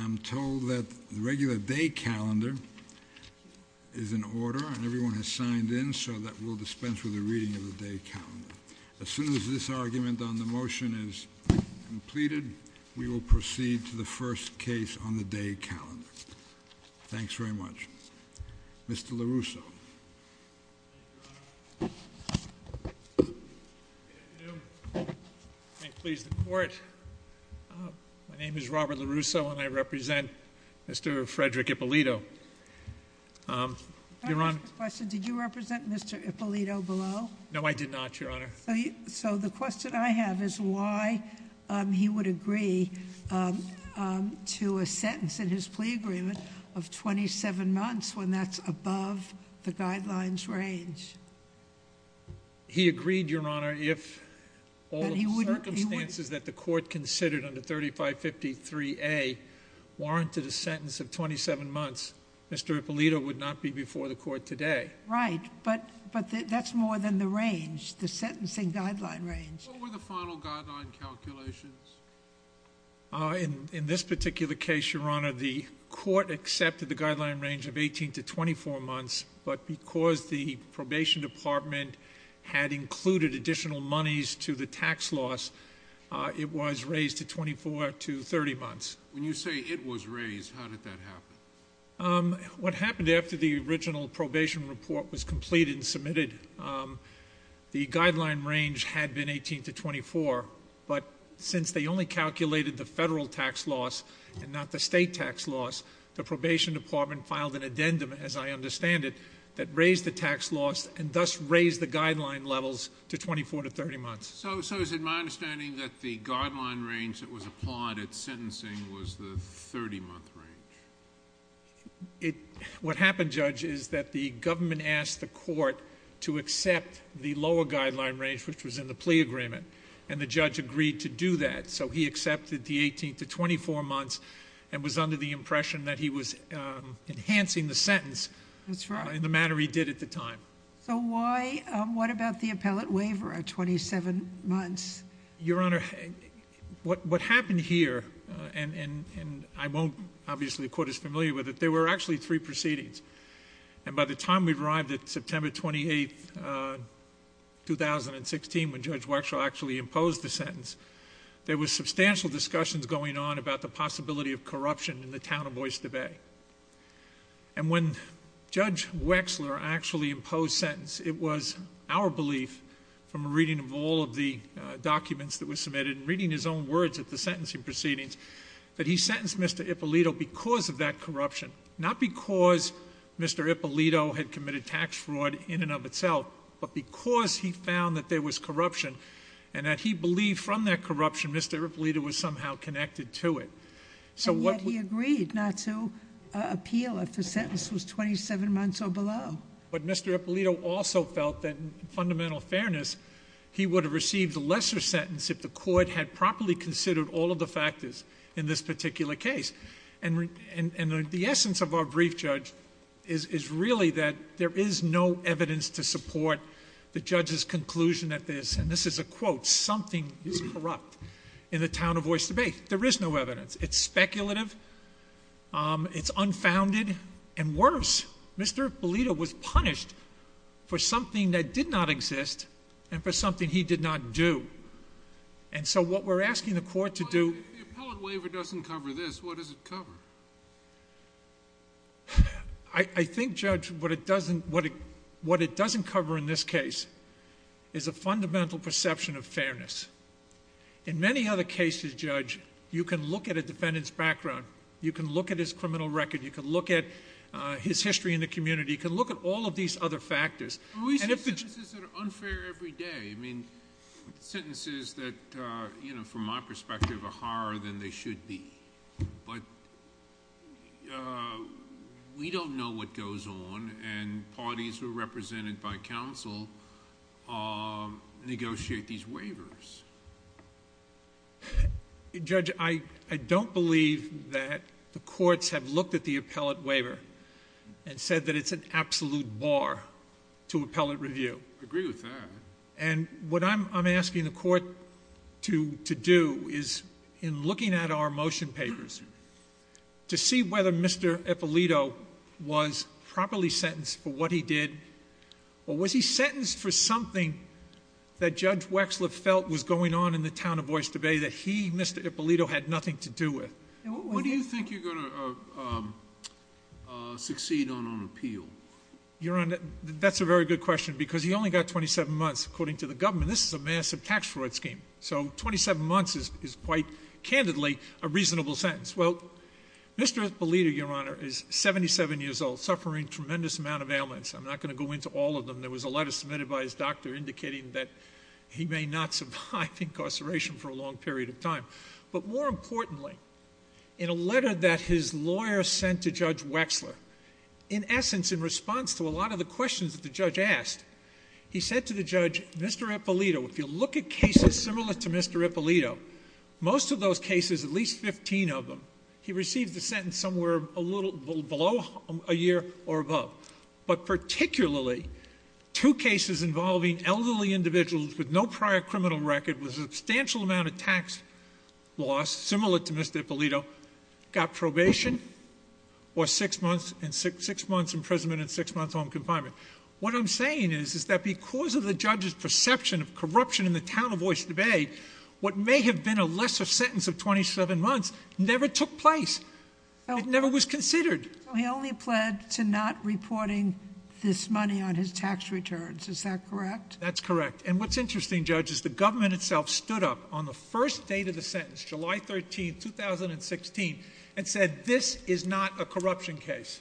I'm told that the regular day calendar is in order and everyone has signed in so that we'll dispense with the reading of the day calendar. As soon as this argument on the motion is completed, we will proceed to the first case on the day calendar. Thanks very much. May it please the court. My name is Robert LaRusso and I represent Mr. Frederick Ippolito. Your Honor. Can I ask a question? Did you represent Mr. Ippolito below? No, I did not, Your Honor. So the question I have is why he would agree to a sentence in his plea agreement of 27 months when that's above the guidelines range? He agreed, Your Honor, if all the circumstances that the court considered under 3553A warranted a sentence of 27 months, Mr. Ippolito would not be before the court today. Right, but that's more than the range, the sentencing guideline range. What were the final guideline calculations? In this particular case, Your Honor, the court accepted the guideline range of 18 to 24 months, but because the probation department had included additional monies to the tax loss, it was raised to 24 to 30 months. When you say it was raised, how did that happen? What happened after the original probation report was completed and submitted, the guideline range had been 18 to 24, but since they only calculated the federal tax loss and not the Medicaid, that raised the tax loss and thus raised the guideline levels to 24 to 30 months. So is it my understanding that the guideline range that was applied at sentencing was the 30-month range? What happened, Judge, is that the government asked the court to accept the lower guideline range, which was in the plea agreement, and the judge agreed to do that. So he accepted the 18 to 24 months and was under the impression that he was enhancing the sentence. That's right. In the manner he did at the time. So why, what about the appellate waiver at 27 months? Your Honor, what happened here, and I won't, obviously, the court is familiar with it, there were actually three proceedings, and by the time we've arrived at September 28, 2016, when Judge Wexler actually imposed the sentence, there were substantial discussions going on about the possibility of corruption in the town of Oyster Bay. And when Judge Wexler actually imposed sentence, it was our belief, from a reading of all of the documents that were submitted and reading his own words at the sentencing proceedings, that he sentenced Mr. Ippolito because of that corruption, not because Mr. Ippolito had committed tax fraud in and of itself, but because he found that there was corruption and that he believed from that corruption Mr. Ippolito was somehow connected to it. And yet he agreed not to appeal if the sentence was 27 months or below. But Mr. Ippolito also felt that in fundamental fairness, he would have received a lesser sentence if the court had properly considered all of the factors in this particular case. And the essence of our brief, Judge, is really that there is no evidence to support the judge's conclusion that this, and this is a quote, something is corrupt in the town of Oyster Bay. There is no evidence. It's speculative. It's unfounded. And worse, Mr. Ippolito was punished for something that did not exist and for something he did not do. And so what we're asking the court to do- If the appellate waiver doesn't cover this, what does it cover? I think, Judge, what it doesn't cover in this case is a fundamental perception of fairness. In many other cases, Judge, you can look at a defendant's background, you can look at his criminal record, you can look at his history in the community, you can look at all of these other factors. But we see sentences that are unfair every day, I mean, sentences that, you know, from my perspective are harder than they should be. But we don't know what goes on and parties who are represented by counsel negotiate these sentences. Judge, I don't believe that the courts have looked at the appellate waiver and said that it's an absolute bar to appellate review. I agree with that. And what I'm asking the court to do is, in looking at our motion papers, to see whether Mr. Ippolito was properly sentenced for what he did or was he sentenced for something that was going on in the town of Oyster Bay that he, Mr. Ippolito, had nothing to do with. What do you think you're going to succeed on on appeal? Your Honor, that's a very good question because he only got 27 months, according to the government. This is a massive tax fraud scheme. So 27 months is quite candidly a reasonable sentence. Well, Mr. Ippolito, Your Honor, is 77 years old, suffering tremendous amount of ailments. I'm not going to go into all of them. There was a letter submitted by his doctor indicating that he may not survive incarceration for a long period of time. But more importantly, in a letter that his lawyer sent to Judge Wexler, in essence in response to a lot of the questions that the judge asked, he said to the judge, Mr. Ippolito, if you look at cases similar to Mr. Ippolito, most of those cases, at least 15 of them, he received the sentence somewhere a little below a year or above. But particularly, two cases involving elderly individuals with no prior criminal record, with a substantial amount of tax loss, similar to Mr. Ippolito, got probation or six months imprisonment and six months home confinement. What I'm saying is, is that because of the judge's perception of corruption in the town of Oyster Bay, what may have been a lesser sentence of 27 months never took place. It never was considered. So he only pled to not reporting this money on his tax returns, is that correct? That's correct. And what's interesting, Judge, is the government itself stood up on the first date of the sentence, July 13th, 2016, and said this is not a corruption case.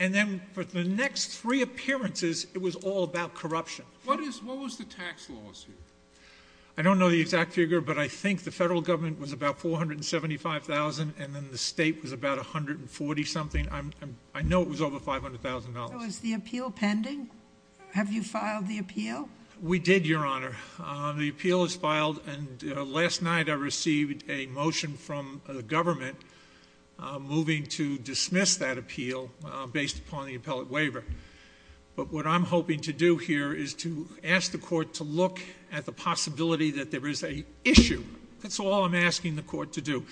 And then for the next three appearances, it was all about corruption. What is, what was the tax loss here? I don't know the exact figure, but I think the federal government was about 475,000, and then the state was about 140 something. I know it was over $500,000. So is the appeal pending? Have you filed the appeal? We did, Your Honor. The appeal is filed, and last night I received a motion from the government moving to dismiss that appeal based upon the appellate waiver. But what I'm hoping to do here is to ask the court to look at the possibility that there is a issue. That's all I'm asking the court to do.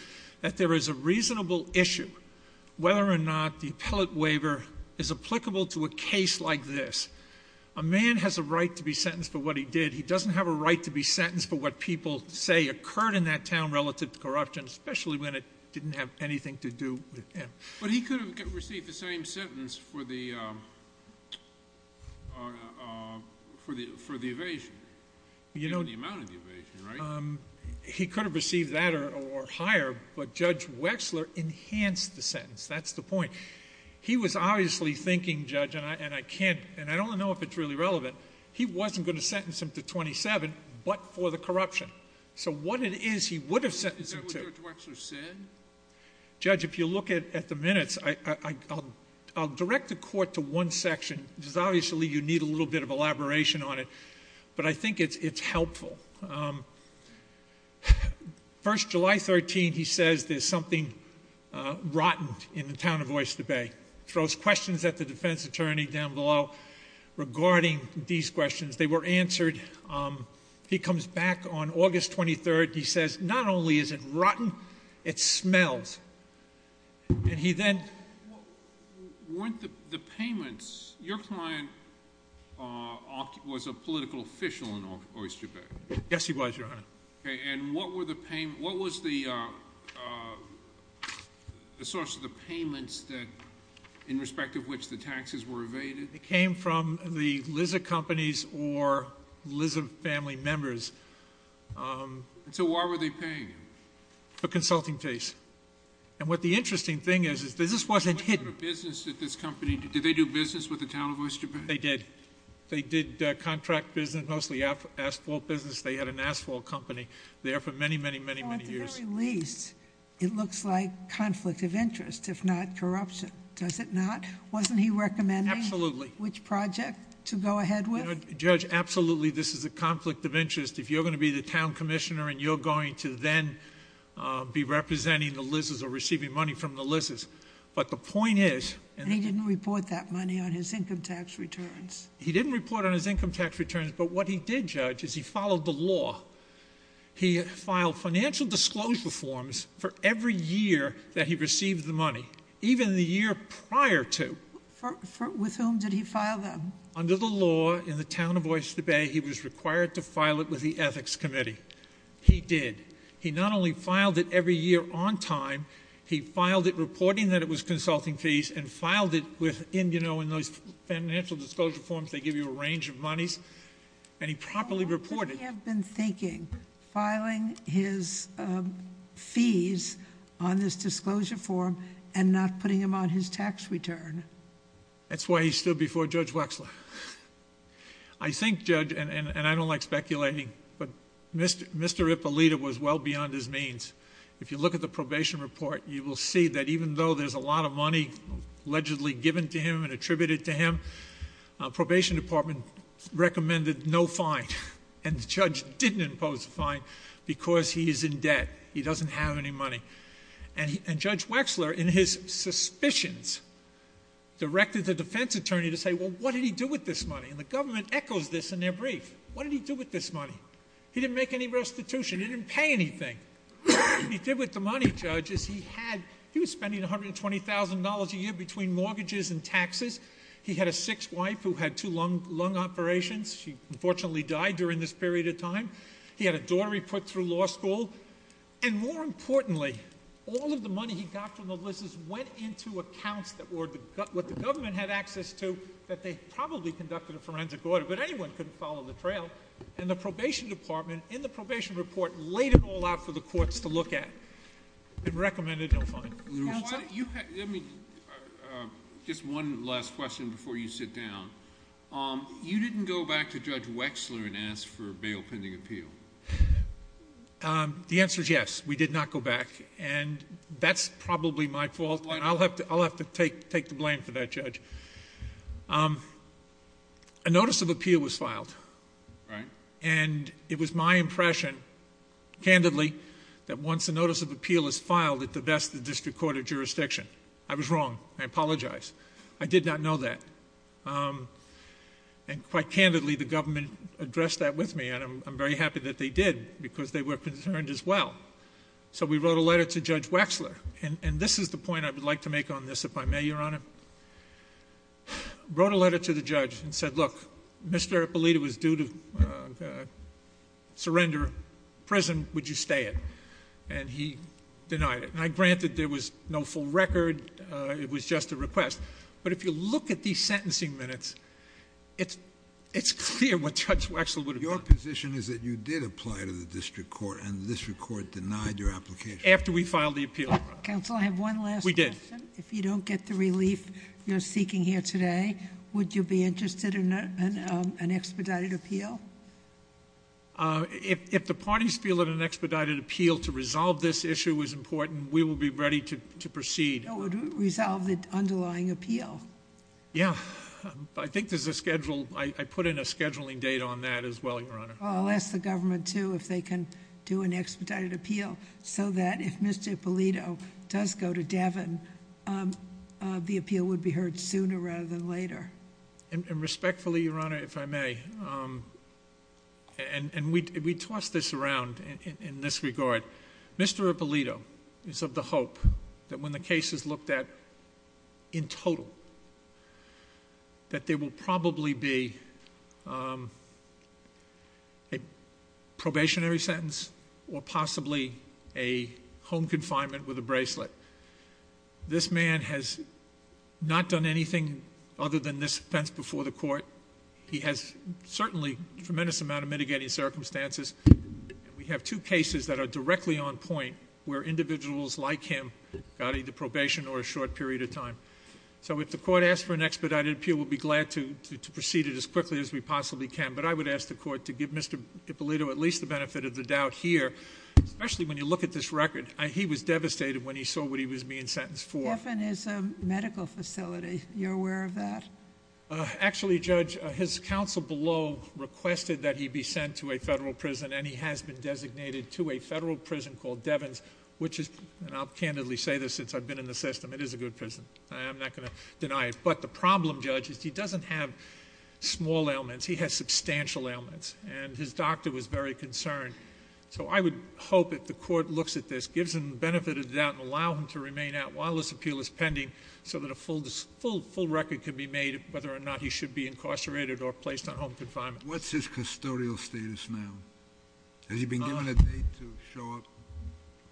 That there is a reasonable issue, whether or not the appellate waiver is applicable to a case like this. A man has a right to be sentenced for what he did. He doesn't have a right to be sentenced for what people say occurred in that town relative to corruption, especially when it didn't have anything to do with him. But he could have received the same sentence for the evasion. You know the amount of the evasion, right? He could have received that or higher, but Judge Wexler enhanced the sentence. That's the point. He was obviously thinking, Judge, and I don't know if it's really relevant. He wasn't going to sentence him to 27, but for the corruption. So what it is he would have sentenced him to. Is that what Judge Wexler said? Judge, if you look at the minutes, I'll direct the court to one section. Because obviously you need a little bit of elaboration on it. But I think it's helpful. First, July 13, he says there's something rotten in the town of Oyster Bay. Throws questions at the defense attorney down below regarding these questions. They were answered. He comes back on August 23rd. He says, not only is it rotten, it smells. And he then. Weren't the payments, your client was a political official in Oyster Bay. Yes, he was, Your Honor. Okay, and what was the source of the payments that, in respect of which the taxes were evaded? It came from the lizard companies or lizard family members. And so why were they paying him? For consulting fees. And what the interesting thing is, is this wasn't hidden. What sort of business did this company, did they do business with the town of Oyster Bay? They did. They did contract business, mostly asphalt business. They had an asphalt company there for many, many, many, many years. Well, at the very least, it looks like conflict of interest, if not corruption. Does it not? Wasn't he recommending- Absolutely. Which project to go ahead with? Judge, absolutely, this is a conflict of interest. If you're going to be the town commissioner and you're going to then be representing the lizards or receiving money from the lizards. But the point is- And he didn't report that money on his income tax returns. He didn't report on his income tax returns, but what he did, Judge, is he followed the law. He filed financial disclosure forms for every year that he received the money, even the year prior to. With whom did he file them? Under the law in the town of Oyster Bay, he was required to file it with the ethics committee. He did. He not only filed it every year on time, he filed it reporting that it was consulting fees and filed it in those financial disclosure forms, they give you a range of monies. And he properly reported- How long did he have been thinking filing his fees on this disclosure form and not putting them on his tax return? That's why he stood before Judge Wexler. I think, Judge, and I don't like speculating, but Mr. Ippolito was well beyond his means. If you look at the probation report, you will see that even though there's a lot of money allegedly given to him and attributed to him, probation department recommended no fine. And the judge didn't impose a fine because he is in debt, he doesn't have any money. And Judge Wexler, in his suspicions, directed the defense attorney to say, well, what did he do with this money? And the government echoes this in their brief. What did he do with this money? He didn't make any restitution. He didn't pay anything. What he did with the money, Judge, is he was spending $120,000 a year between mortgages and taxes. He had a sixth wife who had two lung operations. She unfortunately died during this period of time. He had a daughter he put through law school. And more importantly, all of the money he got from the Lizards went into accounts that were what the government had access to, that they probably conducted a forensic order, but anyone could follow the trail. And the probation department, in the probation report, laid it all out for the courts to look at and recommended no fine. Your Honor, you had, let me, just one last question before you sit down. You didn't go back to Judge Wexler and ask for a bail pending appeal. The answer is yes, we did not go back, and that's probably my fault, and I'll have to take the blame for that, Judge. A notice of appeal was filed, and it was my impression, candidly, that once a notice of appeal is filed, at the best, the district court of jurisdiction. I was wrong, I apologize. I did not know that, and quite candidly, the government addressed that with me. And I'm very happy that they did, because they were concerned as well. So we wrote a letter to Judge Wexler, and this is the point I would like to make on this, if I may, Your Honor. Wrote a letter to the judge and said, look, Mr. Ippolito was due to surrender prison, would you stay it? And he denied it, and I granted there was no full record, it was just a request. But if you look at these sentencing minutes, it's clear what Judge Wexler would have done. Your position is that you did apply to the district court, and the district court denied your application. After we filed the appeal. Council, I have one last question. We did. If you don't get the relief you're seeking here today, would you be interested in an expedited appeal? If the parties feel that an expedited appeal to resolve this issue is important, we will be ready to proceed. That would resolve the underlying appeal. Yeah, I think there's a schedule, I put in a scheduling date on that as well, Your Honor. I'll ask the government too, if they can do an expedited appeal, so that if Mr. Ippolito does go to Devon, the appeal would be heard sooner rather than later. And respectfully, Your Honor, if I may, and we toss this around in this regard. Mr. Ippolito is of the hope that when the case is looked at in total, that there will probably be a probationary sentence or possibly a home confinement with a bracelet. This man has not done anything other than this offense before the court. He has certainly a tremendous amount of mitigating circumstances. And we have two cases that are directly on point where individuals like him got either probation or a short period of time. So if the court asks for an expedited appeal, we'll be glad to proceed it as quickly as we possibly can. But I would ask the court to give Mr. Ippolito at least the benefit of the doubt here, especially when you look at this record. He was devastated when he saw what he was being sentenced for. Devon is a medical facility, you're aware of that? Actually, Judge, his counsel below requested that he be sent to a federal prison and he has been designated to a federal prison called Devon's, which is, and I'll candidly say this since I've been in the system, it is a good prison. I am not going to deny it, but the problem, Judge, is he doesn't have small ailments. He has substantial ailments, and his doctor was very concerned. So I would hope that the court looks at this, gives him the benefit of the doubt, and allow him to remain out while this appeal is pending. So that a full record can be made of whether or not he should be incarcerated or placed on home confinement. What's his custodial status now? Has he been given a date to show up?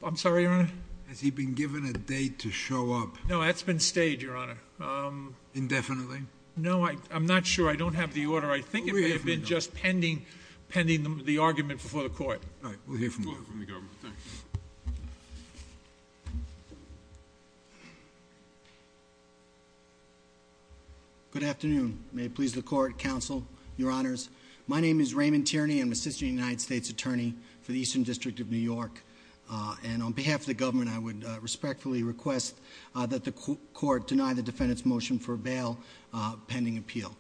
I'm sorry, Your Honor? Has he been given a date to show up? No, that's been stayed, Your Honor. Indefinitely? No, I'm not sure. I don't have the order. I think it may have been just pending the argument before the court. All right, we'll hear from you. We'll hear from the government, thanks. Good afternoon, may it please the court, counsel, your honors. My name is Raymond Tierney, I'm an assistant United States attorney for the Eastern District of New York. And on behalf of the government, I would respectfully request that the court deny the defendant's motion for bail pending appeal.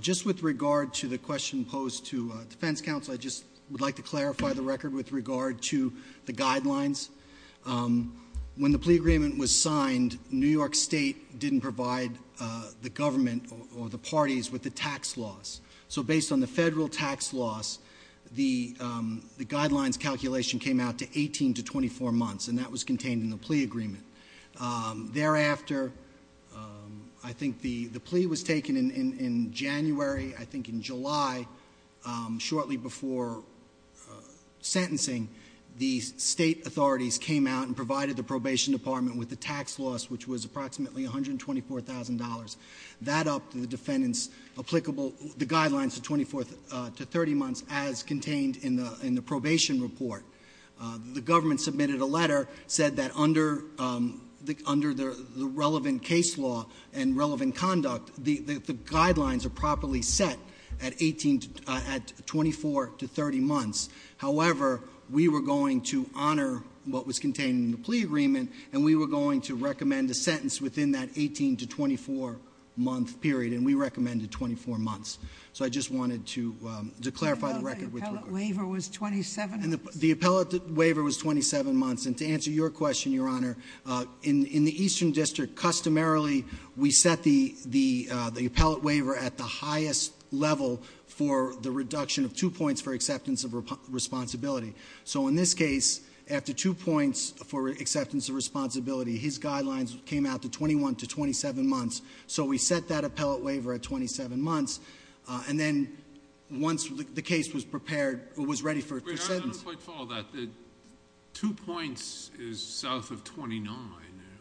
Just with regard to the question posed to defense counsel, I just would like to clarify the record with regard to the guidelines. When the plea agreement was signed, New York State didn't provide the government or the parties with the tax laws. So based on the federal tax laws, the guidelines calculation came out to 18 to 24 months, and that was contained in the plea agreement. Thereafter, I think the plea was taken in January, I think in July, shortly before sentencing. The state authorities came out and provided the probation department with the tax loss, which was approximately $124,000. That upped the defendant's applicable, the guidelines to 24 to 30 months as contained in the probation report. The government submitted a letter, said that under the relevant case law and relevant conduct, the guidelines are properly set at 24 to 30 months. However, we were going to honor what was contained in the plea agreement, and we were going to recommend a sentence within that 18 to 24 month period, and we recommended 24 months. So I just wanted to clarify the record with the court. The appellate waiver was 27 months. The appellate waiver was 27 months. And to answer your question, Your Honor, in the Eastern District, customarily, we set the appellate waiver at the highest level for the reduction of two points for acceptance of responsibility. So in this case, after two points for acceptance of responsibility, his guidelines came out to 21 to 27 months. So we set that appellate waiver at 27 months, and then once the case was prepared, it was ready for a sentence. Wait, Your Honor, I don't quite follow that. Two points is south of 29.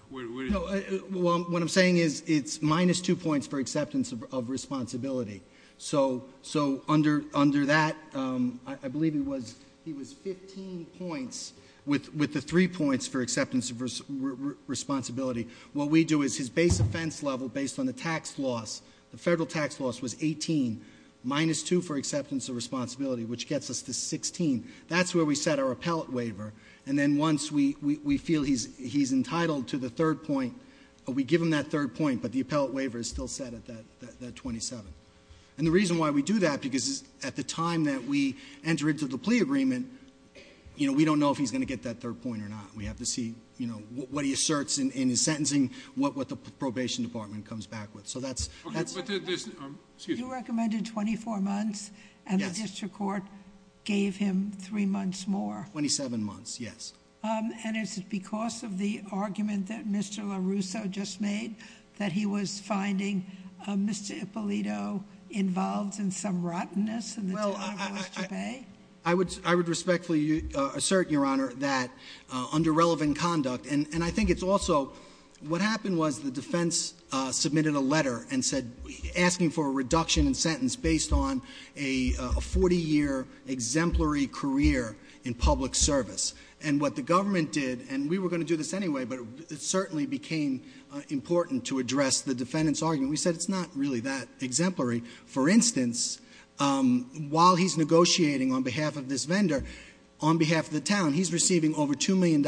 What are you- Well, what I'm saying is, it's minus two points for acceptance of responsibility. So under that, I believe he was 15 points with the three points for acceptance of responsibility. What we do is, his base offense level, based on the tax loss, the federal tax loss, was 18. Minus two for acceptance of responsibility, which gets us to 16. That's where we set our appellate waiver. And then once we feel he's entitled to the third point, we give him that third point. But the appellate waiver is still set at that 27. And the reason why we do that, because at the time that we enter into the plea agreement, we don't know if he's going to get that third point or not. We have to see what he asserts in his sentencing, what the probation department comes back with. So that's- Okay, but there's, excuse me. You recommended 24 months, and the district court gave him three months more. 27 months, yes. And is it because of the argument that Mr. LaRusso just made, that he was finding Mr. Ippolito involved in some rottenness in the- Well, I would respectfully assert, Your Honor, that under relevant conduct. And I think it's also, what happened was the defense submitted a letter and said, asking for a reduction in sentence based on a 40 year exemplary career in public service. And what the government did, and we were going to do this anyway, but it certainly became important to address the defendant's argument. We said, it's not really that exemplary. For instance, while he's negotiating on behalf of this vendor, on behalf of the town, he's receiving over $2 million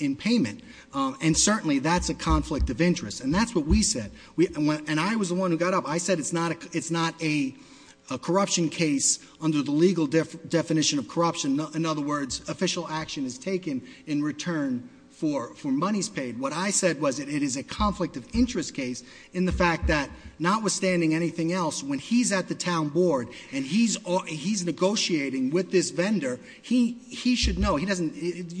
in payment, and certainly that's a conflict of interest. And that's what we said, and I was the one who got up. I said it's not a corruption case under the legal definition of corruption. In other words, official action is taken in return for monies paid. What I said was, it is a conflict of interest case in the fact that notwithstanding anything else, when he's at the town board and he's negotiating with this vendor, he should know. You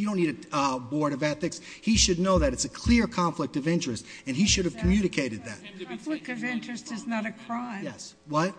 don't need a board of ethics. He should know that it's a clear conflict of interest, and he should have communicated that. Conflict of interest is not a crime. Yes, what?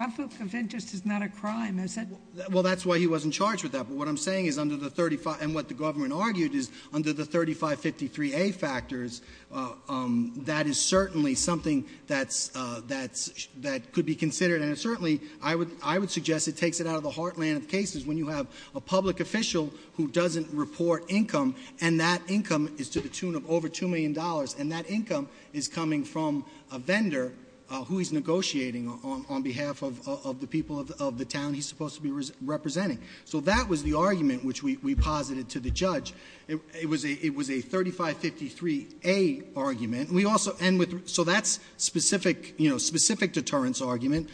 Conflict of interest is not a crime, is it? Well, that's why he wasn't charged with that. But what I'm saying is, under the 35, and what the government argued is, under the 3553A factors, that is certainly something that could be considered. And certainly, I would suggest it takes it out of the heartland of cases when you have a public official who doesn't report income. And that income is to the tune of over $2 million. And that income is coming from a vendor who is negotiating on behalf of the people of the town. And he's supposed to be representing. So that was the argument which we posited to the judge. It was a 3553A argument. We also, and with, so that's specific deterrence argument.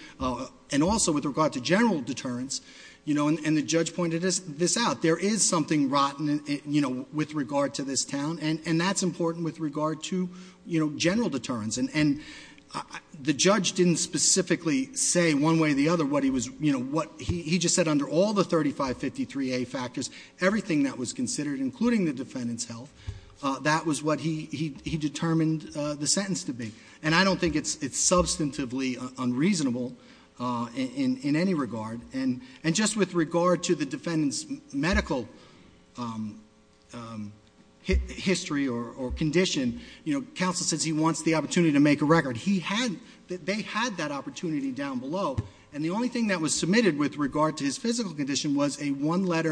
And also with regard to general deterrence, and the judge pointed this out. There is something rotten with regard to this town, and that's important with regard to general deterrence. And the judge didn't specifically say one way or the other what he was, he just said under all the 3553A factors, everything that was considered, including the defendant's health. That was what he determined the sentence to be. And I don't think it's substantively unreasonable in any regard. And just with regard to the defendant's medical history or condition, counsel says he wants the opportunity to make a record. They had that opportunity down below. And the only thing that was submitted with regard to his physical condition was a one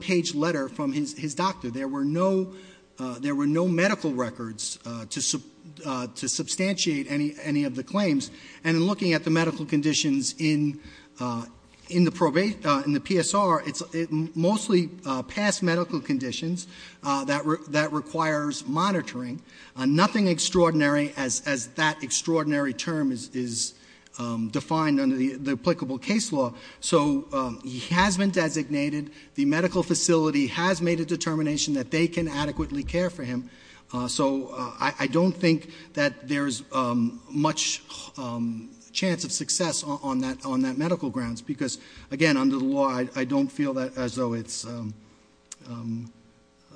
page letter from his doctor. There were no medical records to substantiate any of the claims. And in looking at the medical conditions in the PSR, it's mostly past medical conditions that requires monitoring. Nothing extraordinary as that extraordinary term is defined under the applicable case law. So he has been designated. The medical facility has made a determination that they can adequately care for him. So I don't think that there's much chance of success on that medical grounds. Because again, under the law, I don't feel that as though it's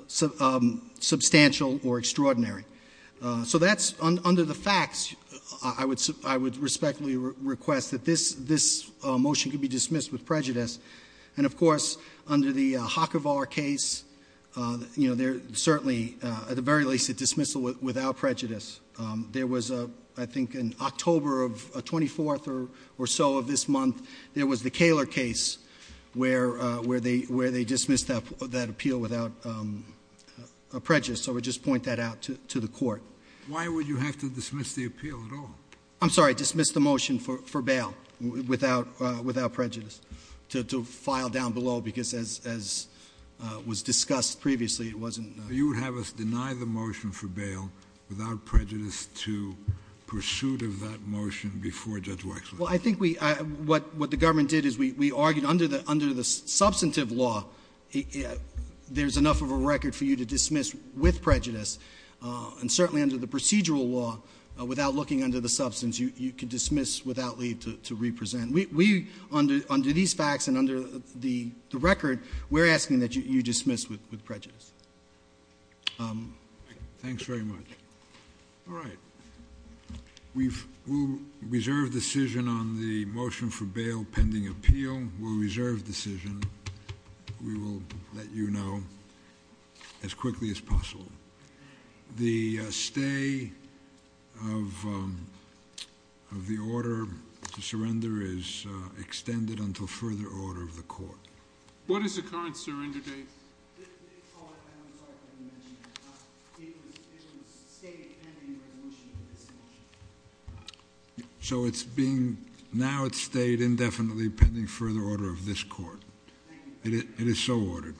substantial or extraordinary. So that's under the facts, I would respectfully request that this motion could be dismissed with prejudice. And of course, under the Hackevar case, they're certainly, at the very least, a dismissal without prejudice. There was, I think, in October of 24th or so of this month, there was the Kaler case where they dismissed that appeal without prejudice. So I would just point that out to the court. Why would you have to dismiss the appeal at all? I'm sorry, dismiss the motion for bail without prejudice. To file down below, because as was discussed previously, it wasn't- So you would have us deny the motion for bail without prejudice to pursuit of that motion before Judge Wexler. Well, I think what the government did is we argued under the substantive law, there's enough of a record for you to dismiss with prejudice. And certainly under the procedural law, without looking under the substance, you can dismiss without need to represent. Under these facts and under the record, we're asking that you dismiss with prejudice. Thanks very much. All right, we'll reserve decision on the motion for bail pending appeal. We'll reserve decision, we will let you know as quickly as possible. The stay of the order to surrender is extended until further order of the court. What is the current surrender date? I'm sorry, I didn't mention that. It was stayed pending resolution of this motion. So it's being, now it's stayed indefinitely pending further order of this court. Thank you. It is so ordered.